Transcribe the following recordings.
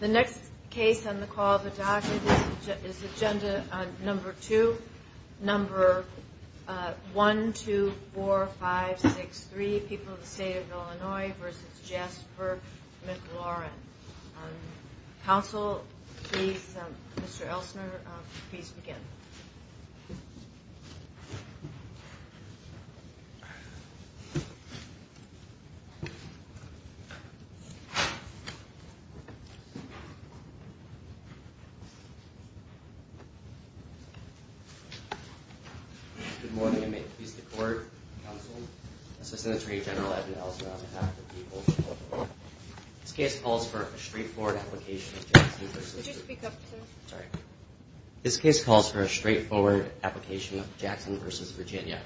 The next case on the call of the document is agenda number 2, number 1, 2, 4, 5, 6, 3, People of the State of Illinois v. Jasper McLaurin. Counsel, please, Mr. Elstner, please begin. Good morning and may it please the Court, Counsel, Assistant Attorney General Edmund Elstner on behalf of the people of Illinois. This case calls for a straightforward application of Jackson v. Virginia,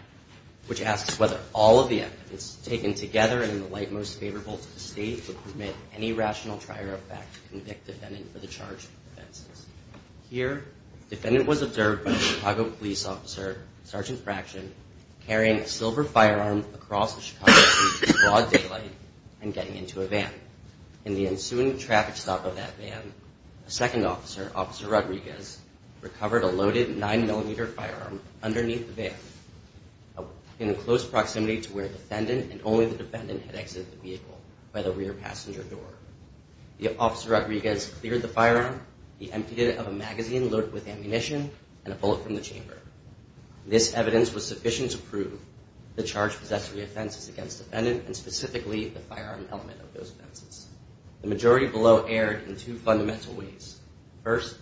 which asks whether all of the evidence taken together and in the light most favorable to the State would permit any rational trier of fact to convict defendant for the charge of offenses. Here, defendant was observed by a Chicago police officer, Sergeant Fraction, carrying a silver firearm across a Chicago street in broad daylight and getting into a van. In the ensuing traffic stop of that van, a second officer, Officer Rodriguez, recovered a loaded 9mm firearm underneath the van in close proximity to where defendant and only the defendant had exited the vehicle by the rear passenger door. The officer Rodriguez cleared the firearm, emptied it of a magazine loaded with ammunition, and a bullet from the chamber. This evidence was sufficient to prove the charged possessory offenses against defendant and specifically the firearm element of those offenses. The majority below erred in two fundamental ways. First,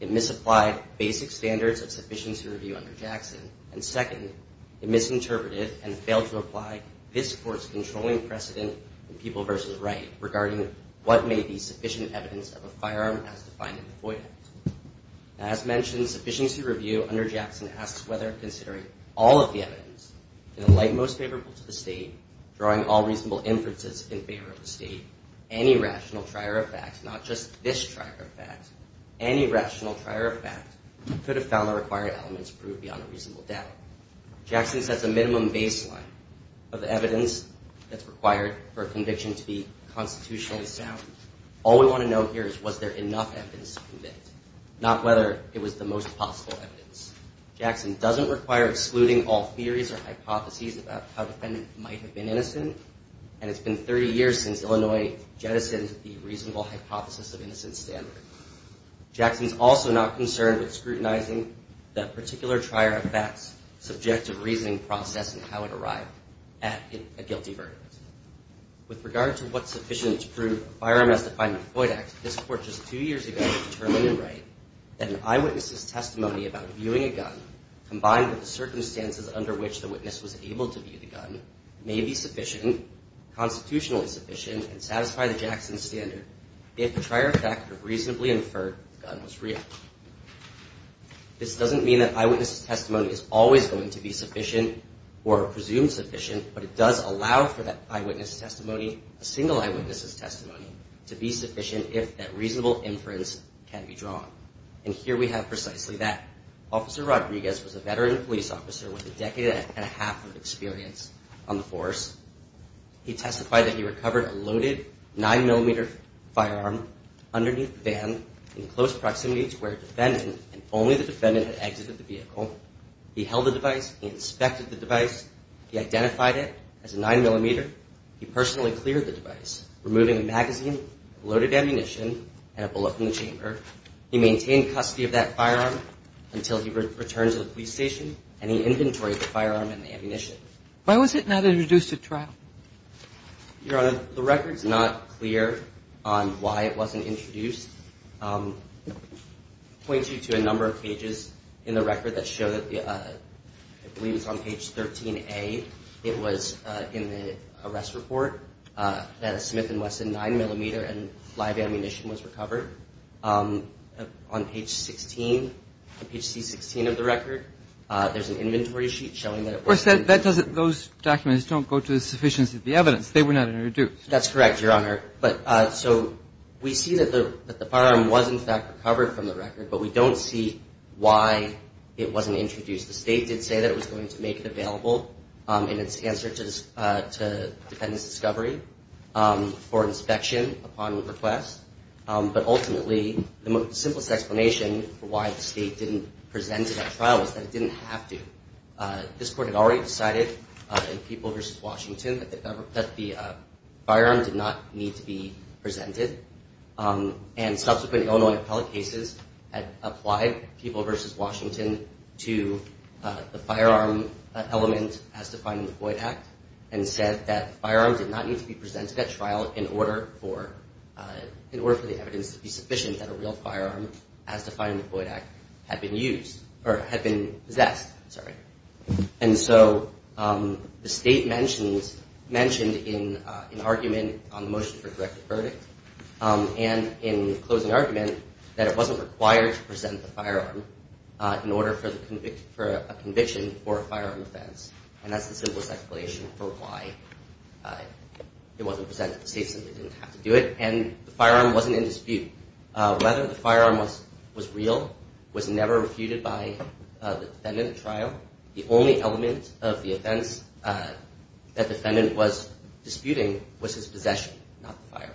it misapplied basic standards of sufficiency review under Jackson. And second, it misinterpreted and failed to apply this Court's controlling precedent in People v. Wright regarding what may be sufficient evidence of a firearm as defined in the FOIA Act. As mentioned, sufficiency review under Jackson asks whether, considering all of the evidence, in the light most favorable to the State, drawing all reasonable inferences in favor of the State, any rational trier of fact, not just this trier of fact, any rational trier of fact, could have found the required elements proved beyond a reasonable doubt. Jackson sets a minimum baseline of evidence that's required for a conviction to be constitutionally sound. All we want to know here is was there enough evidence to convict, not whether it was the most possible evidence. Jackson doesn't require excluding all theories or hypotheses about how the defendant might have been innocent, and it's been 30 years since Illinois jettisoned the reasonable hypothesis of innocent standard. Jackson's also not concerned with scrutinizing that particular trier of facts, subjective reasoning process, and how it arrived at a guilty verdict. With regard to what's sufficient to prove a firearm as defined in the FOIA Act, this Court just two years ago determined and right that an eyewitness's testimony about viewing a gun combined with the circumstances under which the witness was able to view the gun may be sufficient, constitutionally sufficient, and satisfy the Jackson standard if the trier of fact reasonably inferred the gun was real. This doesn't mean that eyewitness's testimony is always going to be sufficient or presumed sufficient, but it does allow for that eyewitness's testimony, a single eyewitness's testimony, to be sufficient if that reasonable inference can be drawn. And here we have precisely that. Officer Rodriguez was a veteran police officer with a decade and a half of experience on the force. He testified that he recovered a loaded 9-millimeter firearm underneath the van in close proximity to where the defendant and only the defendant had exited the vehicle. He held the device. He inspected the device. He identified it as a 9-millimeter. He personally cleared the device, removing a magazine, loaded ammunition, and a bullet from the chamber. He maintained custody of that firearm until he returned to the police station, and he inventoried the firearm and the ammunition. Why was it not introduced at trial? Your Honor, the record's not clear on why it wasn't introduced. It points you to a number of pages in the record that show that, I believe it's on page 13A, it was in the arrest report that a Smith & Wesson 9-millimeter and live ammunition was recovered. On page 16, page C-16 of the record, there's an inventory sheet showing that it was. Those documents don't go to the sufficiency of the evidence. They were not introduced. That's correct, Your Honor. We see that the firearm was, in fact, recovered from the record, but we don't see why it wasn't introduced. The state did say that it was going to make it available in its answer to the defendant's discovery for inspection upon request. But ultimately, the simplest explanation for why the state didn't present it at trial is that it didn't have to. This court had already decided in People v. Washington that the firearm did not need to be presented, and subsequent Illinois appellate cases had applied People v. Washington to the firearm element as defined in the Floyd Act and said that firearms did not need to be presented at trial in order for the evidence to be sufficient that a real firearm as defined in the Floyd Act had been used or had been possessed. I'm sorry. And so the state mentioned in an argument on the motion for directed verdict and in closing argument that it wasn't required to present the firearm in order for a conviction for a firearm offense, and that's the simplest explanation for why it wasn't presented. The state simply didn't have to do it, and the firearm wasn't in dispute. Whether the firearm was real was never refuted by the defendant at trial. The only element of the offense that the defendant was disputing was his possession, not the firearm.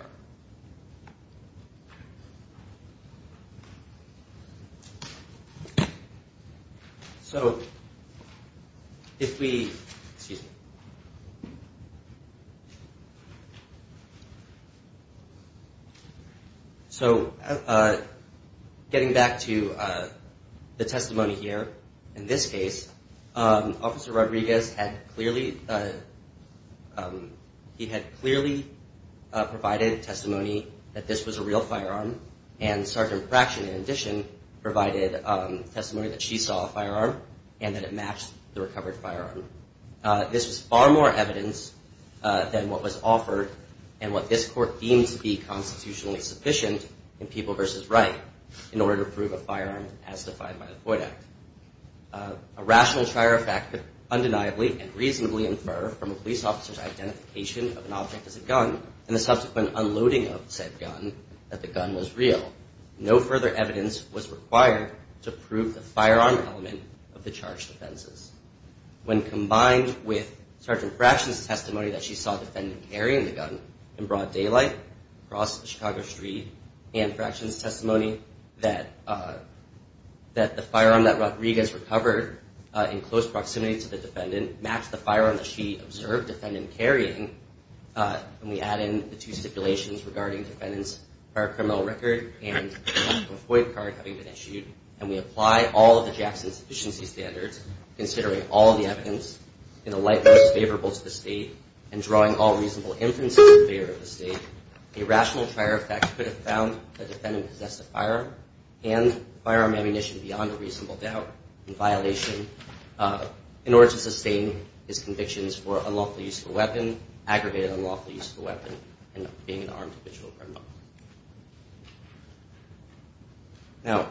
So getting back to the testimony here, in this case, Officer Rodriguez had clearly provided testimony that this was a real firearm, and Sergeant Pratchett, in addition, provided testimony that she saw a firearm and that it matched the recovered firearm. This was far more evidence than what was offered and what this court deemed to be constitutionally sufficient in People v. Wright in order to prove a firearm as defined by the Floyd Act. A rational trier of fact could undeniably and reasonably infer from a police officer's identification of an object as a gun and the subsequent unloading of said gun that the gun was real. No further evidence was required to prove the firearm element of the charged offenses. When combined with Sergeant Pratchett's testimony that she saw the defendant carrying the gun in broad daylight across Chicago Street, and Pratchett's testimony that the firearm that Rodriguez recovered in close proximity to the defendant matched the firearm that she observed the defendant carrying, and we add in the two stipulations regarding the defendant's prior criminal record and a Floyd card having been issued, and we apply all of the Jackson's sufficiency standards, considering all of the evidence in the light most favorable to the state, and drawing all reasonable inferences in favor of the state, a rational trier of fact could have found that the defendant possessed a firearm and firearm ammunition beyond a reasonable doubt in violation in order to sustain his convictions for unlawful use of a weapon, aggravated unlawful use of a weapon, and being an armed individual criminal. Now,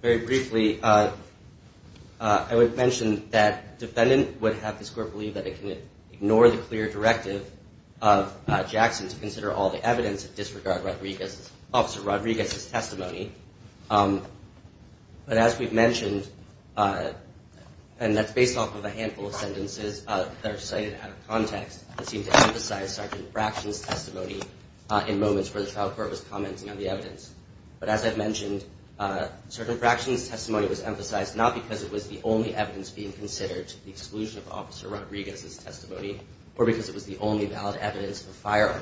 very briefly, I would mention that defendant would have this court believe that it can ignore the clear directive of Jackson to consider all the evidence and disregard Officer Rodriguez's testimony, but as we've mentioned, and that's based off of a handful of sentences that are cited out of context that seem to emphasize Sergeant Pratchett's testimony in moments where the trial court was commenting on the evidence. But as I've mentioned, Sergeant Pratchett's testimony was emphasized not because it was the only evidence being considered to the exclusion of Officer Rodriguez's testimony, or because it was the only valid evidence of firearm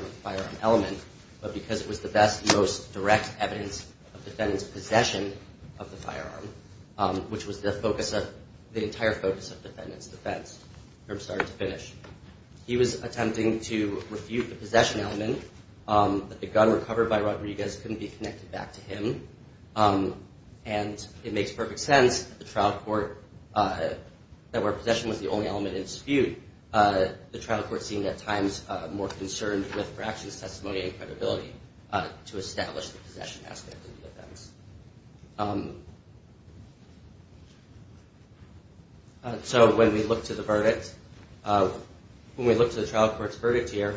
element, but because it was the best, most direct evidence of defendant's possession of the firearm, which was the entire focus of defendant's defense from start to finish. He was attempting to refute the possession element, that the gun recovered by Rodriguez couldn't be connected back to him, and it makes perfect sense that where possession was the only element in dispute, the trial court seemed at times more concerned with Pratchett's testimony and credibility to establish the possession aspect of the defense. So when we look to the verdict, when we look to the trial court's verdict here,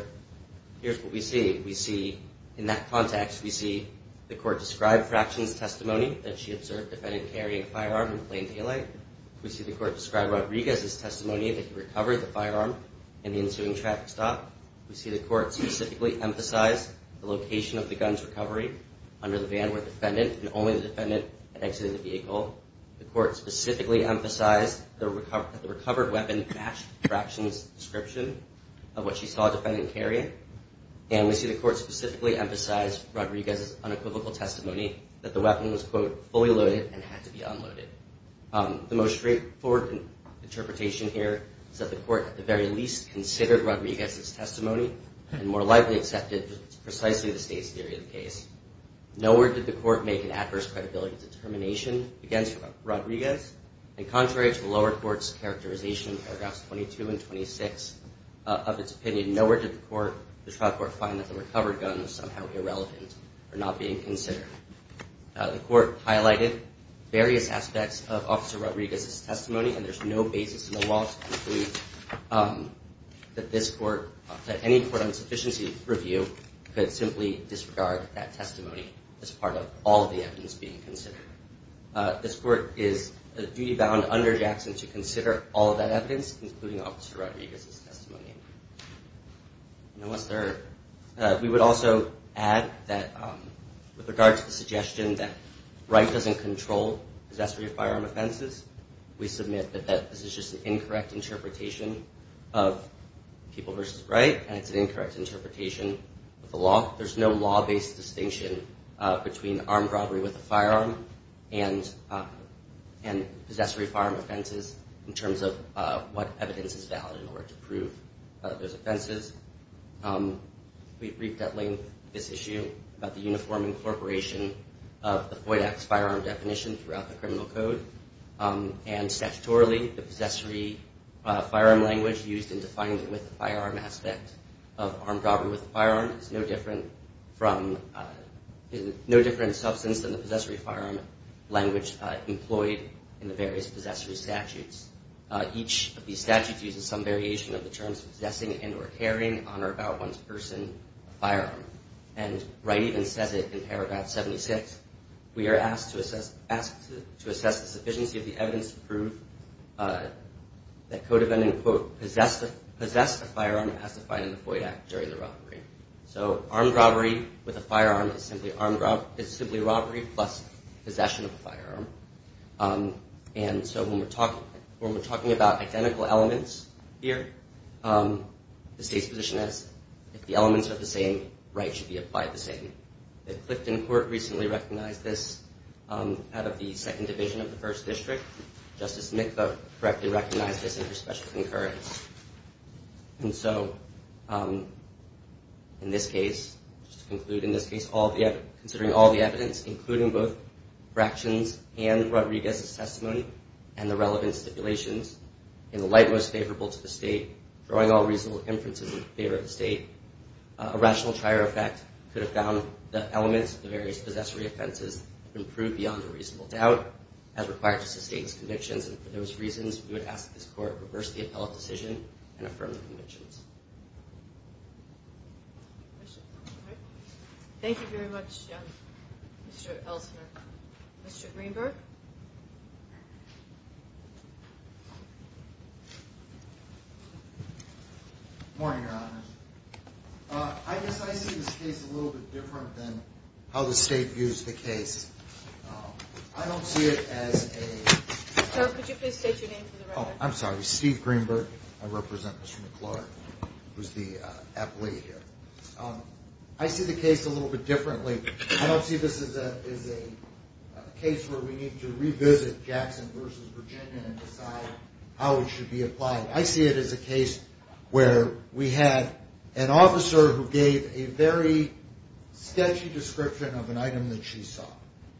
here's what we see. We see, in that context, we see the court describe Pratchett's testimony that she observed the defendant carrying a firearm in plain daylight. We see the court describe Rodriguez's testimony that he recovered the firearm in the ensuing traffic stop. We see the court specifically emphasize the location of the gun's recovery under the van where the defendant, and only the defendant, had exited the vehicle. The court specifically emphasized that the recovered weapon matched Pratchett's description of what she saw the defendant carrying. And we see the court specifically emphasize Rodriguez's unequivocal testimony that the weapon was, quote, fully loaded and had to be unloaded. The most straightforward interpretation here is that the court at the very least considered Rodriguez's testimony, and more likely accepted precisely the state's theory of the case. Nowhere did the court make an adverse credibility determination against Rodriguez, and contrary to the lower court's characterization in paragraphs 22 and 26 of its opinion, nowhere did the trial court find that the recovered gun was somehow irrelevant or not being considered. The court highlighted various aspects of Officer Rodriguez's testimony, and there's no basis in the law to conclude that this court, that any court on sufficiency review, could simply disregard that testimony as part of all of the evidence being considered. This court is duty-bound under Jackson to consider all of that evidence, including Officer Rodriguez's testimony. We would also add that with regard to the suggestion that Wright doesn't control possessory firearm offenses, we submit that this is just an incorrect interpretation of People v. Wright, and it's an incorrect interpretation of the law. There's no law-based distinction between armed robbery with a firearm and possessory firearm offenses in terms of what evidence is valid in order to prove those offenses. We briefed at length this issue about the uniform incorporation of the FOID Act's firearm definition throughout the criminal code, and statutorily the possessory firearm language used in defining the with-a-firearm aspect of armed robbery with a firearm is no different substance than the possessory firearm language employed in the various possessory statutes. Each of these statutes uses some variation of the terms possessing and or carrying on or about one's person a firearm, and Wright even says it in paragraph 76, we are asked to assess the sufficiency of the evidence to prove that code of ending, quote, possess a firearm as defined in the FOID Act during the robbery. So armed robbery with a firearm is simply robbery plus possession of a firearm. And so when we're talking about identical elements here, the state's position is if the elements are the same, Wright should be applied the same. The Clifton Court recently recognized this out of the Second Division of the First District. Justice Mikva correctly recognized this under special concurrence. And so in this case, just to conclude, in this case, considering all the evidence, including both fractions and Rodriguez's testimony and the relevant stipulations, in the light most favorable to the state, drawing all reasonable inferences in favor of the state, a rational trier effect could have found the elements of the various possessory offenses improved beyond a reasonable doubt as required to sustain its convictions. And for those reasons, we would ask that this Court reverse the appellate decision and affirm the convictions. Thank you very much, Mr. Elstner. Mr. Greenberg? Good morning, Your Honors. I guess I see this case a little bit different than how the state views the case. I don't see it as a – Sir, could you please state your name for the record? Oh, I'm sorry. Steve Greenberg. I represent Mr. McClure, who's the appellate here. I see the case a little bit differently. I don't see this as a case where we need to revisit Jackson v. Virginia and decide how it should be applied. I see it as a case where we had an officer who gave a very sketchy description of an item that she saw.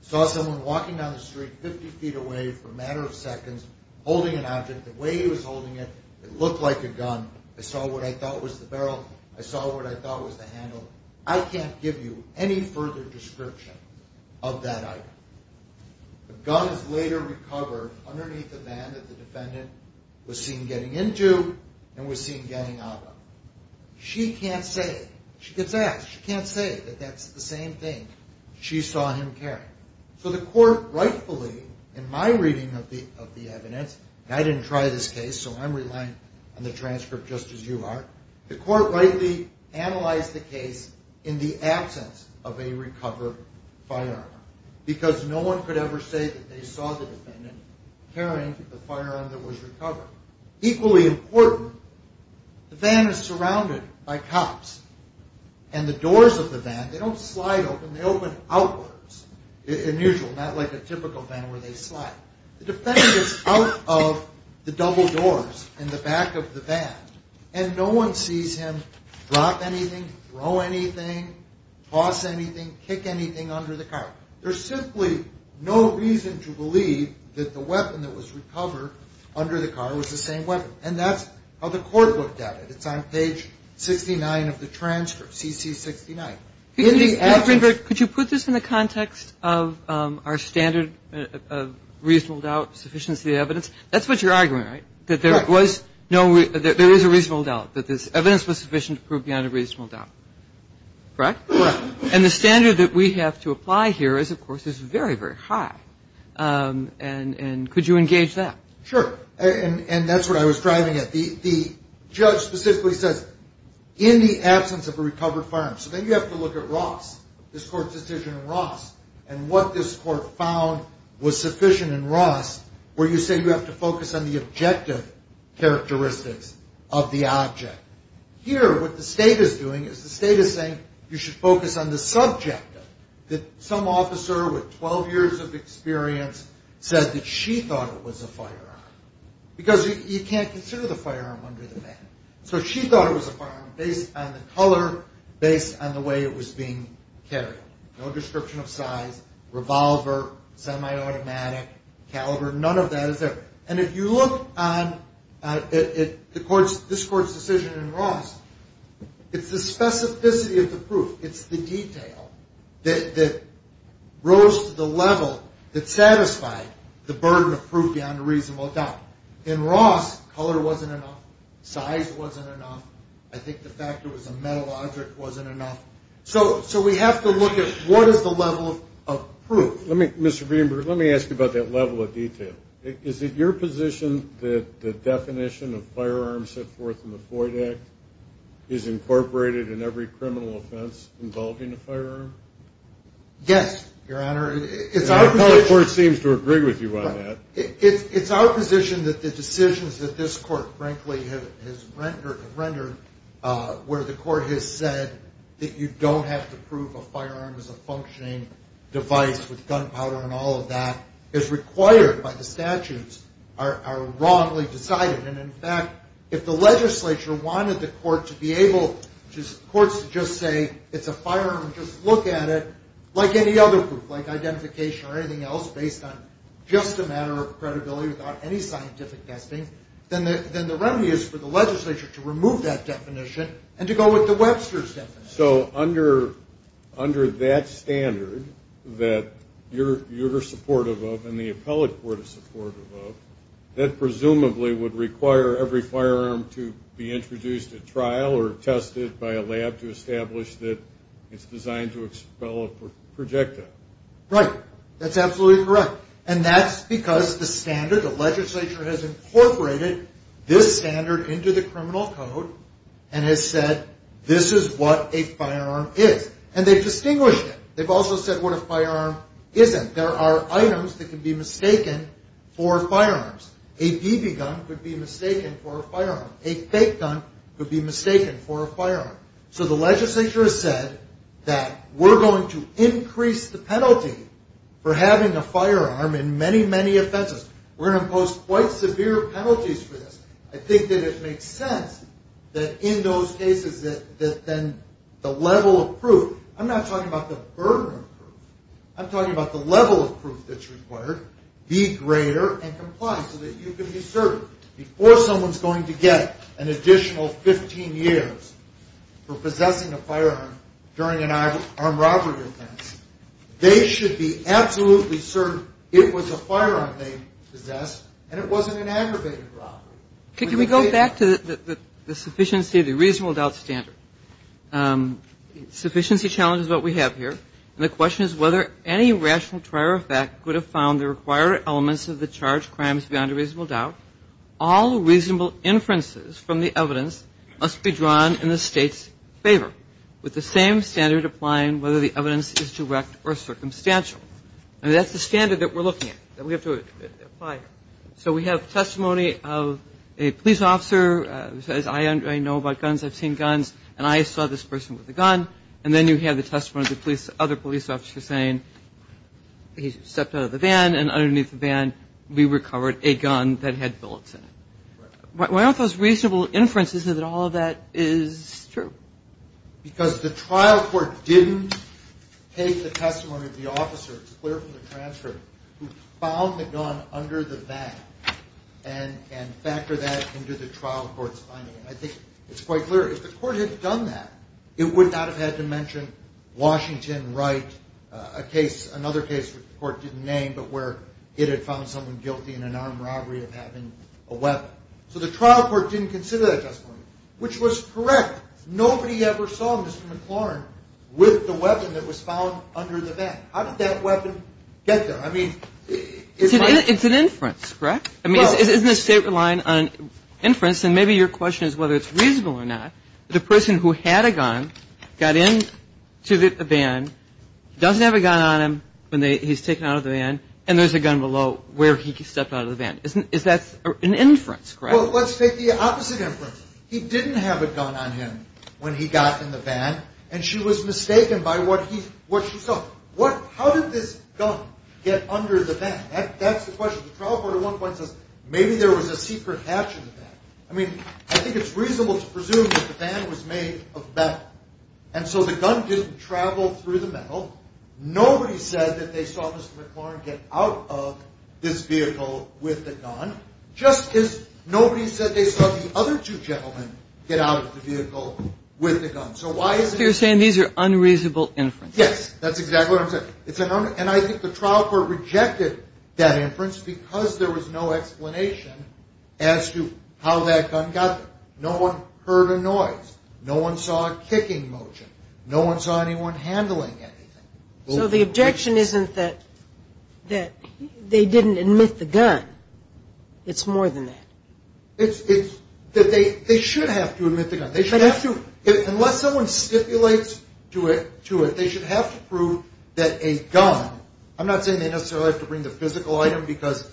Saw someone walking down the street 50 feet away for a matter of seconds, holding an object. The way he was holding it, it looked like a gun. I saw what I thought was the barrel. I saw what I thought was the handle. I can't give you any further description of that item. The gun is later recovered underneath the van that the defendant was seen getting into and was seen getting out of. She can't say – she gets asked. She can't say that that's the same thing she saw him carrying. So the court rightfully, in my reading of the evidence – and I didn't try this case, so I'm relying on the transcript just as you are – the court rightly analyzed the case in the absence of a recovered firearm because no one could ever say that they saw the defendant carrying the firearm that was recovered. Equally important, the van is surrounded by cops, and the doors of the van, they don't slide open. They open outwards, unusual, not like a typical van where they slide. The defendant is out of the double doors in the back of the van, and no one sees him drop anything, throw anything, toss anything, kick anything under the car. There's simply no reason to believe that the weapon that was recovered under the car was the same weapon. And that's how the court looked at it. It's on page 69 of the transcript, CC69. Could you put this in the context of our standard of reasonable doubt, sufficiency of evidence? That's what you're arguing, right? That there was – no, there is a reasonable doubt, that this evidence was sufficient to prove beyond a reasonable doubt, correct? Correct. And the standard that we have to apply here is, of course, is very, very high. And could you engage that? Sure. And that's what I was driving at. The judge specifically says, in the absence of a recovered firearm. So then you have to look at Ross, this court's decision on Ross, and what this court found was sufficient in Ross, where you say you have to focus on the objective characteristics of the object. Here, what the state is doing is the state is saying you should focus on the subjective, that some officer with 12 years of experience said that she thought it was a firearm, because you can't consider the firearm under the van. So she thought it was a firearm based on the color, based on the way it was being carried. No description of size, revolver, semi-automatic, caliber, none of that is there. And if you look at this court's decision in Ross, it's the specificity of the proof, it's the detail that rose to the level that satisfied the burden of proof beyond a reasonable doubt. In Ross, color wasn't enough, size wasn't enough. I think the fact it was a metal object wasn't enough. So we have to look at what is the level of proof. Mr. Greenberg, let me ask you about that level of detail. Is it your position that the definition of firearms set forth in the Floyd Act is incorporated in every criminal offense involving a firearm? Yes, Your Honor. The color court seems to agree with you on that. It's our position that the decisions that this court, frankly, has rendered where the court has said that you don't have to prove a firearm is a functioning device with gunpowder and all of that is required by the statutes are wrongly decided. And, in fact, if the legislature wanted the courts to just say it's a firearm, just look at it like any other proof, like identification or anything else, based on just a matter of credibility without any scientific testing, then the remedy is for the legislature to remove that definition and to go with the Webster's definition. So under that standard that you're supportive of and the appellate court is supportive of, that presumably would require every firearm to be introduced at trial or tested by a lab to establish that it's designed to expel a projectile. Right. That's absolutely correct. And that's because the standard, the legislature has incorporated this standard into the criminal code and has said this is what a firearm is. And they've distinguished it. They've also said what a firearm isn't. There are items that can be mistaken for firearms. A BB gun could be mistaken for a firearm. A fake gun could be mistaken for a firearm. So the legislature has said that we're going to increase the penalty for having a firearm in many, many offenses. We're going to impose quite severe penalties for this. I think that it makes sense that in those cases that then the level of proof, I'm not talking about the burden of proof, I'm talking about the level of proof that's required, be greater and comply so that you can be certain before someone's going to get an additional 15 years for possessing a firearm during an armed robbery offense, they should be absolutely certain it was a firearm they possessed and it wasn't an aggravated robbery. Can we go back to the sufficiency of the reasonable doubt standard? Sufficiency challenge is what we have here. And the question is whether any rational prior effect could have found the required elements of the charge crimes beyond a reasonable doubt. All reasonable inferences from the evidence must be drawn in the state's favor with the same standard applying whether the evidence is direct or circumstantial. And that's the standard that we're looking at, that we have to apply. So we have testimony of a police officer who says, I know about guns, I've seen guns, and I saw this person with a gun. And then you have the testimony of the other police officer saying, he stepped out of the van and underneath the van we recovered a gun that had bullets in it. Why don't those reasonable inferences know that all of that is true? Because the trial court didn't take the testimony of the officer, it's clear from the transcript, who found the gun under the van and factor that into the trial court's finding. And I think it's quite clear if the court had done that, it would not have had to mention Washington Wright, another case that the court didn't name, but where it had found someone guilty in an armed robbery of having a weapon. So the trial court didn't consider that testimony, which was correct. Nobody ever saw Mr. McLaurin with the weapon that was found under the van. How did that weapon get there? It's an inference, correct? I mean, isn't the state relying on inference? And maybe your question is whether it's reasonable or not. The person who had a gun got into the van, doesn't have a gun on him when he's taken out of the van, and there's a gun below where he stepped out of the van. That's an inference, correct? Well, let's take the opposite inference. He didn't have a gun on him when he got in the van, and she was mistaken by what she saw. How did this gun get under the van? That's the question. The trial court at one point says maybe there was a secret hatch in the van. I mean, I think it's reasonable to presume that the van was made of metal. And so the gun didn't travel through the metal. Nobody said that they saw Mr. McLaurin get out of this vehicle with the gun, just as nobody said they saw the other two gentlemen get out of the vehicle with the gun. So why is it? So you're saying these are unreasonable inferences. Yes, that's exactly what I'm saying. And I think the trial court rejected that inference because there was no explanation as to how that gun got there. No one heard a noise. No one saw a kicking motion. No one saw anyone handling anything. So the objection isn't that they didn't admit the gun. It's more than that. It's that they should have to admit the gun. They should have to. Unless someone stipulates to it, they should have to prove that a gun, I'm not saying they necessarily have to bring the physical item because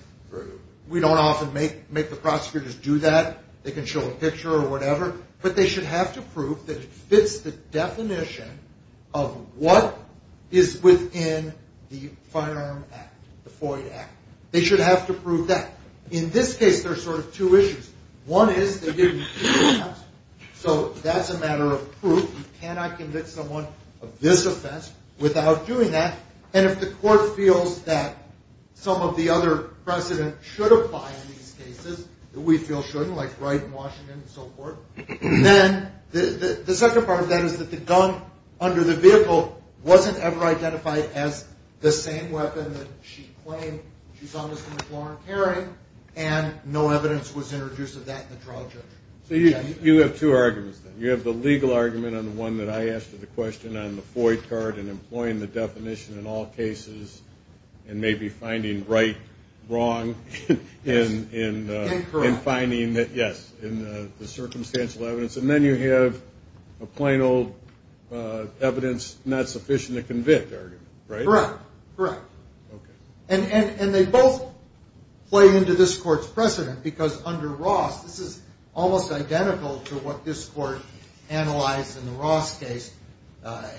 we don't often make the prosecutors do that. They can show a picture or whatever. But they should have to prove that it fits the definition of what is within the Firearm Act, the FOIA Act. They should have to prove that. In this case, there are sort of two issues. One is they give you two accounts. So that's a matter of proof. You cannot convict someone of this offense without doing that. And if the court feels that some of the other precedent should apply in these cases, that we feel shouldn't, like Wright and Washington and so forth, then the second part of that is that the gun under the vehicle wasn't ever identified as the same weapon that she claimed she saw Mr. McLaurin carrying, and no evidence was introduced of that in the trial judge. So you have two arguments then. You have the legal argument on the one that I asked you the question on, the FOIA card and employing the definition in all cases and maybe finding Wright wrong in finding that, yes, in the circumstantial evidence. And then you have a plain old evidence not sufficient to convict argument, right? Correct, correct. And they both play into this court's precedent because under Ross, this is almost identical to what this court analyzed in the Ross case.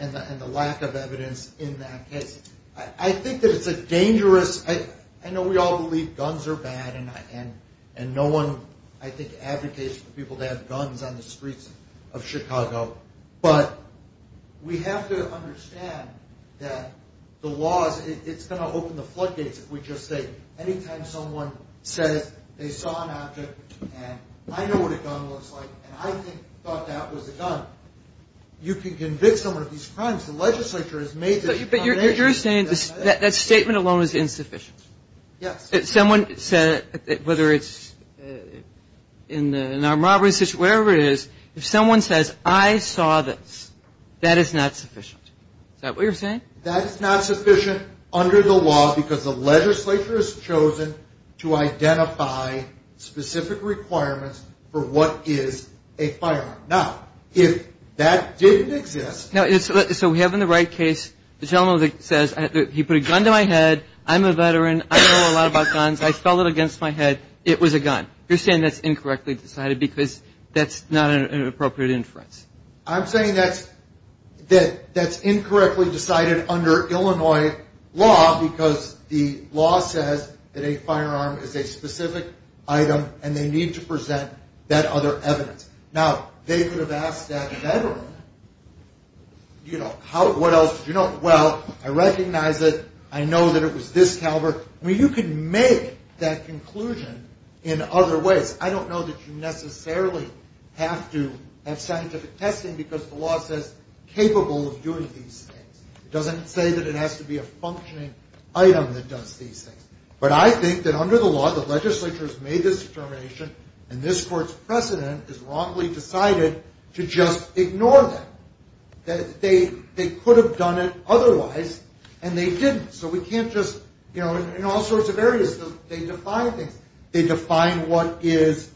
And the lack of evidence in that case. I think that it's a dangerous – I know we all believe guns are bad, and no one, I think, advocates for people to have guns on the streets of Chicago. But we have to understand that the law is – it's going to open the floodgates if we just say any time someone says they saw an object and I know what a gun looks like and I thought that was a gun, you can convict someone of these crimes. The legislature has made this a foundation. But you're saying that statement alone is insufficient? Yes. If someone said, whether it's in an armed robbery situation, whatever it is, if someone says I saw this, that is not sufficient. Is that what you're saying? That is not sufficient under the law because the legislature has chosen to identify specific requirements for what is a firearm. Now, if that didn't exist – So we have in the Wright case, the gentleman says he put a gun to my head, I'm a veteran, I know a lot about guns, I felt it against my head, it was a gun. You're saying that's incorrectly decided because that's not an appropriate inference. I'm saying that's incorrectly decided under Illinois law because the law says that a firearm is a specific item and they need to present that other evidence. Now, they could have asked that veteran, you know, what else did you know? Well, I recognize it, I know that it was this caliber. I mean, you can make that conclusion in other ways. I don't know that you necessarily have to have scientific testing because the law says capable of doing these things. It doesn't say that it has to be a functioning item that does these things. But I think that under the law, the legislature has made this determination and this court's precedent is wrongly decided to just ignore that. They could have done it otherwise and they didn't. So we can't just, you know, in all sorts of areas they define things. They define what is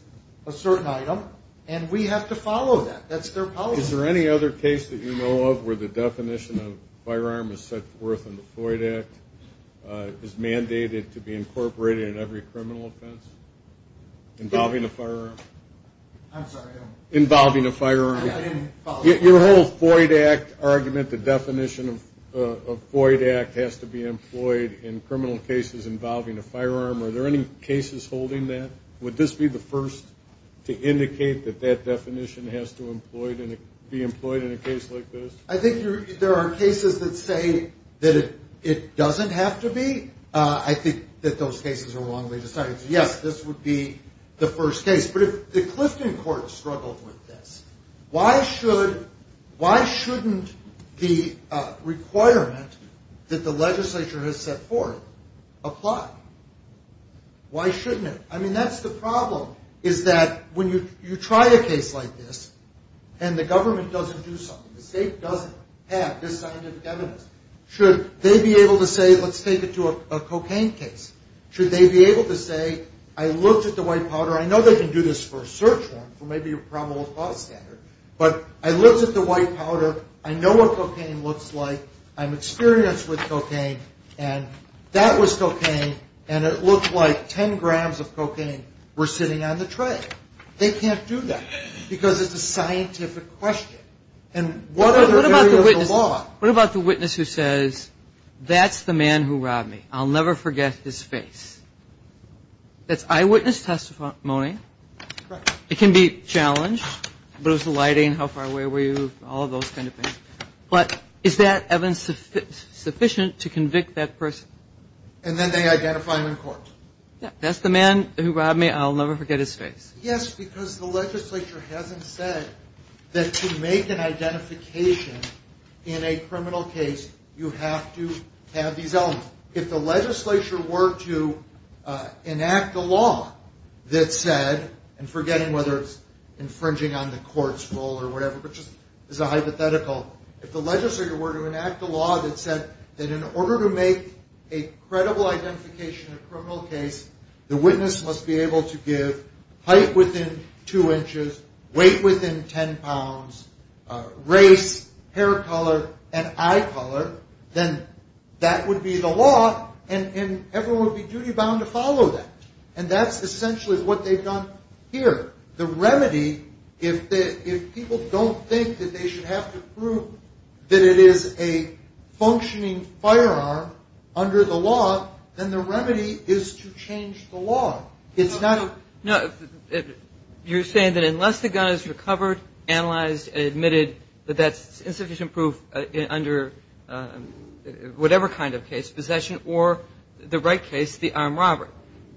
a certain item and we have to follow that. That's their policy. Is there any other case that you know of where the definition of firearm is set forth in the Floyd Act, is mandated to be incorporated in every criminal offense? Involving a firearm? I'm sorry. Involving a firearm. I didn't follow. Your whole Floyd Act argument, the definition of Floyd Act, has to be employed in criminal cases involving a firearm. Are there any cases holding that? Would this be the first to indicate that that definition has to be employed in a case like this? I think there are cases that say that it doesn't have to be. I think that those cases are wrongly decided. Yes, this would be the first case. But if the Clifton Court struggled with this, why shouldn't the requirement that the legislature has set forth apply? Why shouldn't it? I mean, that's the problem is that when you try a case like this and the government doesn't do something, the state doesn't have this scientific evidence, should they be able to say let's take it to a cocaine case? Should they be able to say I looked at the white powder. I know they can do this for a search warrant for maybe a probable cause standard, but I looked at the white powder. I know what cocaine looks like. I'm experienced with cocaine, and that was cocaine, and it looked like 10 grams of cocaine were sitting on the tray. They can't do that because it's a scientific question. And what other area of the law? What about the witness who says, that's the man who robbed me. I'll never forget his face. That's eyewitness testimony. It can be challenged. What was the lighting? How far away were you? All of those kind of things. But is that evidence sufficient to convict that person? And then they identify him in court. That's the man who robbed me. I'll never forget his face. Yes, because the legislature hasn't said that to make an identification in a criminal case, you have to have these elements. If the legislature were to enact a law that said, and forgetting whether it's infringing on the court's role or whatever, but just as a hypothetical, if the legislature were to enact a law that said that in order to make a credible identification in a criminal case, the witness must be able to give height within 2 inches, weight within 10 pounds, race, hair color, and eye color, then that would be the law, and everyone would be duty-bound to follow that. And that's essentially what they've done here. The remedy, if people don't think that they should have to prove that it is a functioning firearm under the law, then the remedy is to change the law. It's not a... No, you're saying that unless the gun is recovered, analyzed, and admitted that that's insufficient proof under whatever kind of case, possession or the right case, the armed robbery,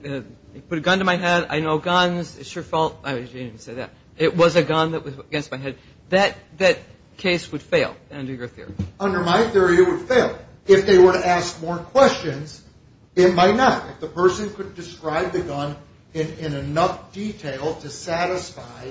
put a gun to my head, I know guns, it's your fault. I didn't even say that. It was a gun that was against my head. That case would fail under your theory. Under my theory, it would fail. If they were to ask more questions, it might not. The person could describe the gun in enough detail to satisfy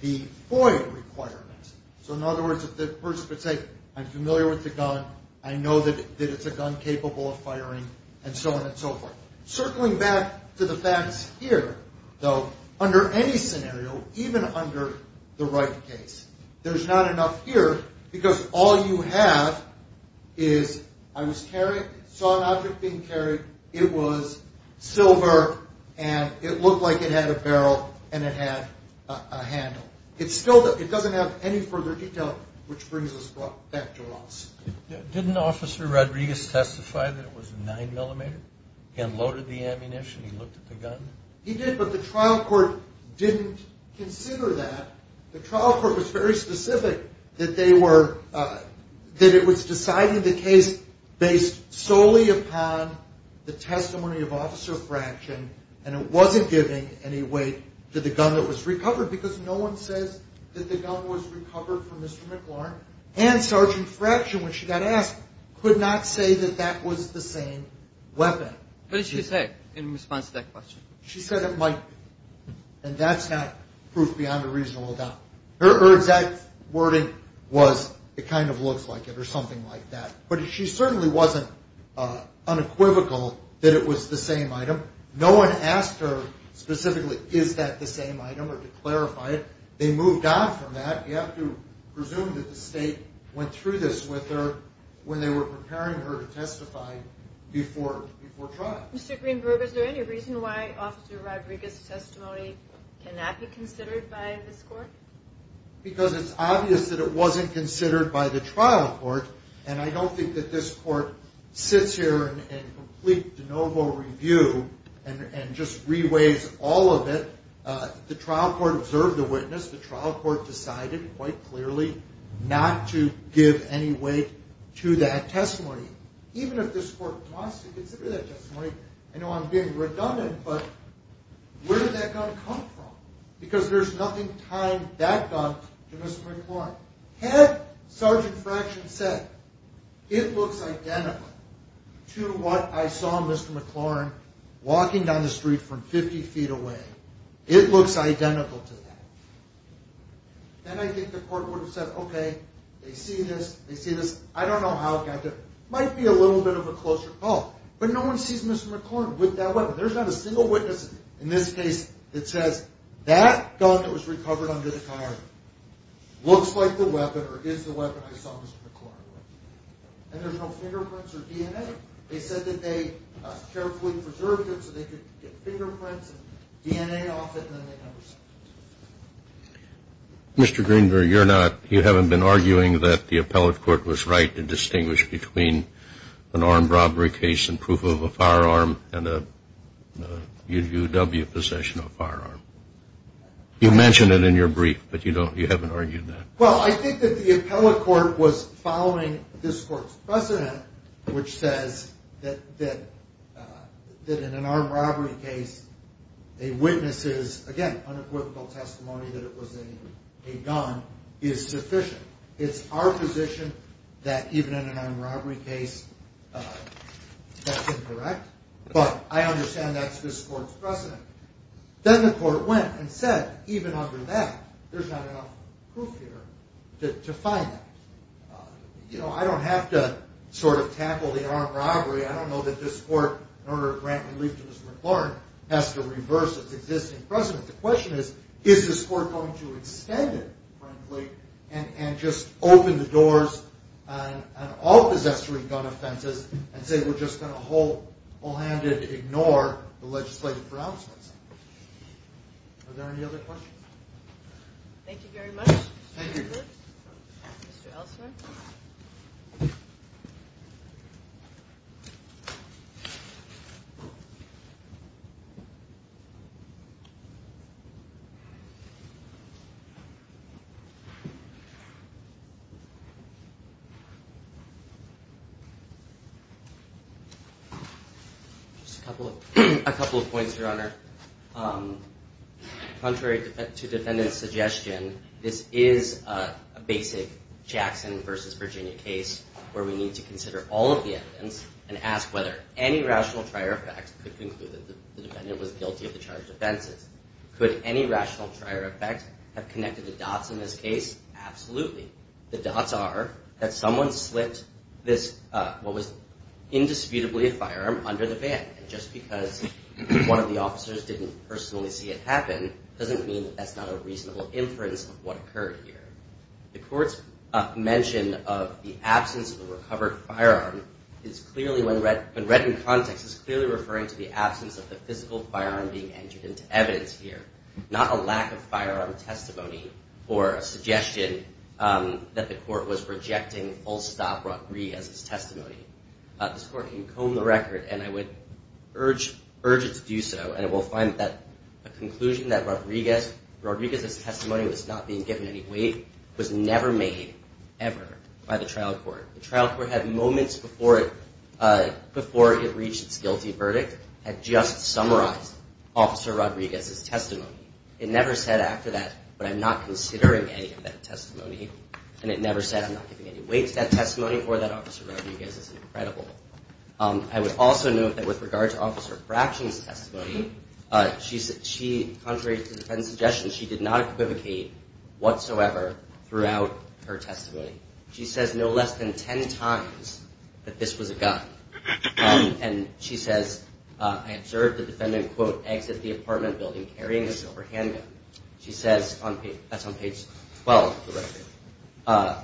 the FOIA requirements. So, in other words, if the person could say, I'm familiar with the gun, I know that it's a gun capable of firing, and so on and so forth. Circling back to the facts here, though, under any scenario, even under the right case, there's not enough here because all you have is, I was carrying, saw an object being carried, it was silver and it looked like it had a barrel and it had a handle. It doesn't have any further detail, which brings us back to Ross. Didn't Officer Rodriguez testify that it was a 9mm? He unloaded the ammunition, he looked at the gun? He did, but the trial court didn't consider that. The trial court was very specific that it was deciding the case based solely upon the testimony of Officer Fraction, and it wasn't giving any weight to the gun that was recovered because no one says that the gun was recovered from Mr. McLaurin. And Sergeant Fraction, when she got asked, could not say that that was the same weapon. What did she say in response to that question? She said it might be, and that's not proof beyond a reasonable doubt. Her exact wording was, it kind of looks like it or something like that. But she certainly wasn't unequivocal that it was the same item. No one asked her specifically, is that the same item, or to clarify it. They moved on from that. You have to presume that the state went through this with her when they were preparing her to testify before trial. Mr. Greenberg, is there any reason why Officer Rodriguez's testimony cannot be considered by this court? Because it's obvious that it wasn't considered by the trial court, and I don't think that this court sits here and completes de novo review and just reweighs all of it. The trial court observed the witness. The trial court decided quite clearly not to give any weight to that testimony. Even if this court wants to consider that testimony, I know I'm being redundant, but where did that gun come from? Because there's nothing tying that gun to Mr. McLaurin. Had Sergeant Fraction said, it looks identical to what I saw Mr. McLaurin walking down the street from 50 feet away. It looks identical to that. Then I think the court would have said, okay, they see this, they see this. I don't know how it got there. It might be a little bit of a closer call, but no one sees Mr. McLaurin with that weapon. There's not a single witness in this case that says, that gun that was recovered under the car looks like the weapon or is the weapon I saw Mr. McLaurin with. And there's no fingerprints or DNA. They said that they carefully preserved it so they could get fingerprints and DNA off it, and then they never sent it. Mr. Greenberg, you haven't been arguing that the appellate court was right to distinguish between an armed robbery case and proof of a firearm and a UW possession of a firearm. You mentioned it in your brief, but you haven't argued that. Well, I think that the appellate court was following this court's precedent, which says that in an armed robbery case, a witness's, again, unequivocal testimony that it was a gun is sufficient. It's our position that even in an armed robbery case, that's incorrect, but I understand that's this court's precedent. Then the court went and said, even under that, there's not enough proof here to find that. You know, I don't have to sort of tackle the armed robbery. I don't know that this court, in order to grant relief to Mr. McLaurin, has to reverse its existing precedent. The question is, is this court going to extend it, frankly, and just open the doors on all possessory gun offenses and say we're just going to whole-handed ignore the legislative grounds? Are there any other questions? Thank you very much, Mr. Greenberg. Mr. Elsner? Just a couple of points, Your Honor. Contrary to defendant's suggestion, this is a basic Jackson v. Virginia case where we need to consider all of the evidence and ask whether any rational trier of facts could conclude that the defendant was guilty of the charged offenses. Could any rational trier of facts have connected the dots in this case? Absolutely. The dots are that someone slipped what was indisputably a firearm under the van, and just because one of the officers didn't personally see it happen doesn't mean that that's not a reasonable inference of what occurred here. The court's mention of the absence of a recovered firearm is clearly, when read in context, is clearly referring to the absence of the physical firearm being entered into evidence here, not a lack of firearm testimony or a suggestion that the court was rejecting full-stop Rodriguez's testimony. This court can comb the record, and I would urge it to do so, and it will find that a conclusion that Rodriguez's testimony was not being given any weight was never made, ever, by the trial court. The trial court had moments before it reached its guilty verdict had just summarized Officer Rodriguez's testimony. It never said after that, but I'm not considering any of that testimony, and it never said I'm not giving any weight to that testimony or that Officer Rodriguez is incredible. I would also note that with regard to Officer Fraction's testimony, she, contrary to the defendant's suggestion, she did not equivocate whatsoever throughout her testimony. She says no less than 10 times that this was a gun, and she says, I observed the defendant, quote, exit the apartment building carrying a silver handgun. She says, that's on page 12 of the record,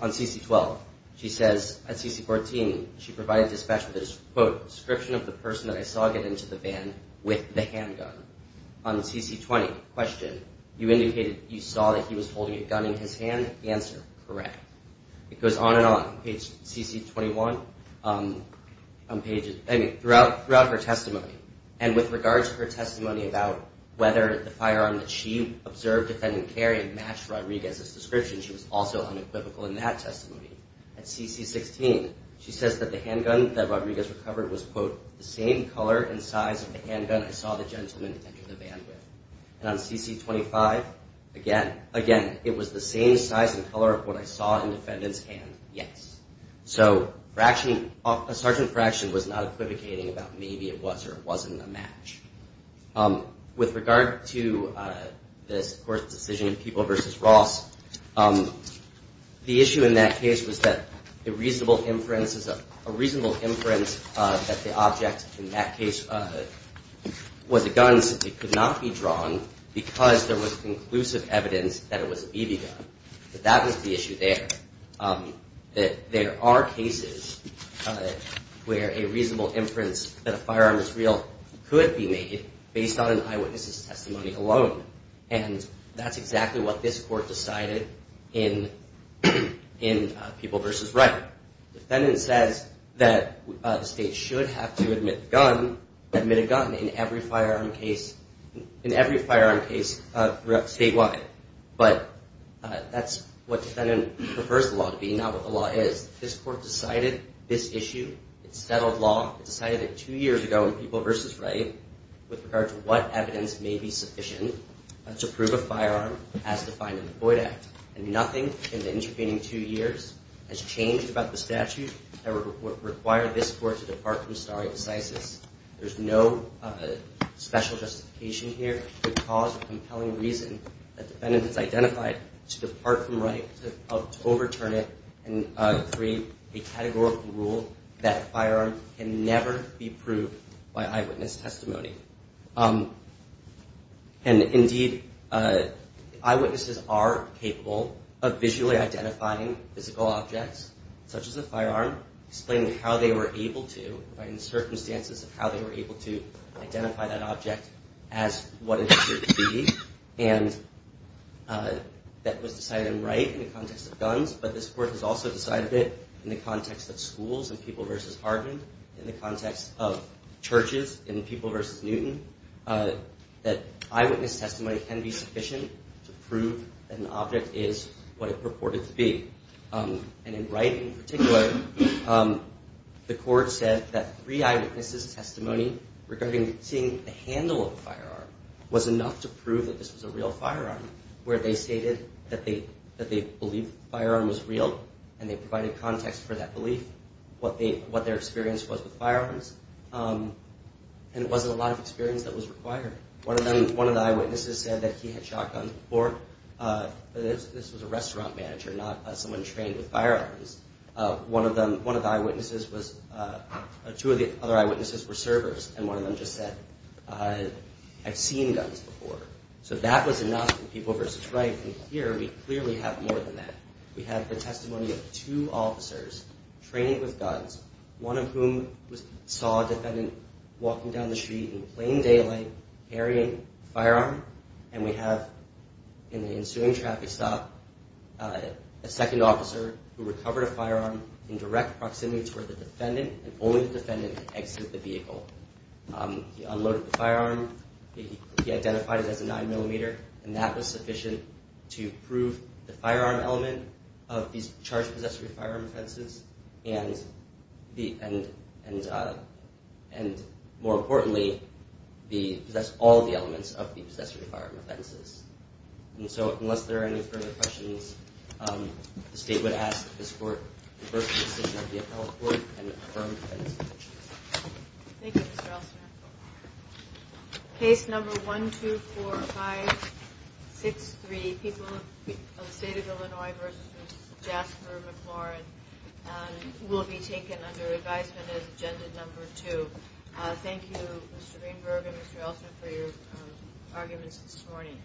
on CC-12, she says, at CC-14, she provided dispatch with a, quote, description of the person that I saw get into the van with the handgun. On the CC-20 question, you indicated you saw that he was holding a gun in his hand. The answer, correct. It goes on and on. On page CC-21, on pages, I mean, throughout her testimony, and with regard to her testimony about whether the firearm that she observed the defendant carry matched Rodriguez's description, she was also unequivocal in that testimony. At CC-16, she says that the handgun that Rodriguez recovered was, quote, the same color and size of the handgun I saw the gentleman enter the van with. And on CC-25, again, again, it was the same size and color of what I saw in the defendant's hand, yes. So fractioning, a sergeant fraction was not equivocating about maybe it was or wasn't a match. With regard to this court's decision, People v. Ross, the issue in that case was that a reasonable inference, a reasonable inference that the object in that case was a gun, could not be drawn because there was conclusive evidence that it was a BB gun. That was the issue there. There are cases where a reasonable inference that a firearm is real could be made based on an eyewitness's testimony alone. And that's exactly what this court decided in People v. Wright. The defendant says that the state should have to admit a gun in every firearm case statewide. But that's what defendant prefers the law to be, not what the law is. This court decided this issue. It settled law. It decided that two years ago in People v. Wright, with regard to what evidence may be sufficient to prove a firearm, as defined in the Boyd Act. And nothing in the intervening two years has changed about the statute that would require this court to depart from stare decisis. There's no special justification here to cause a compelling reason that the defendant has identified to depart from right, to overturn it, and create a categorical rule that firearms can never be proved by eyewitness testimony. And, indeed, eyewitnesses are capable of visually identifying physical objects, such as a firearm, explaining how they were able to, providing the circumstances of how they were able to identify that object as what it appeared to be. And that was decided in Wright in the context of guns. But this court has also decided that in the context of schools in People v. Hardin, in the context of churches in People v. Newton, that eyewitness testimony can be sufficient to prove that an object is what it purported to be. And in Wright, in particular, the court said that three eyewitnesses' testimony regarding seeing the handle of a firearm was enough to prove that this was a real firearm, where they stated that they believed the firearm was real, and they provided context for that belief, what their experience was with firearms. And it wasn't a lot of experience that was required. One of the eyewitnesses said that he had shot guns before. This was a restaurant manager, not someone trained with firearms. One of the eyewitnesses was, two of the other eyewitnesses were servers, and one of them just said, I've seen guns before. So that was enough in People v. Wright. And here we clearly have more than that. We have the testimony of two officers training with guns, one of whom saw a defendant walking down the street in plain daylight, carrying a firearm, and we have, in the ensuing traffic stop, a second officer who recovered a firearm in direct proximity to the defendant, and only the defendant could exit the vehicle. He unloaded the firearm. He identified it as a 9mm, and that was sufficient to prove the firearm element of these charge-possessory firearm offenses, and, more importantly, possess all the elements of the possessory firearm offenses. And so, unless there are any further questions, the State would ask that this Court reverse the decision of the appellate court and confirm the defense. Thank you, Mr. Elsner. Case number 124563, the people of the State of Illinois v. Jasper McLaurin, will be taken under advisement as agenda number two. Thank you, Mr. Greenberg and Mr. Elsner, for your arguments this morning.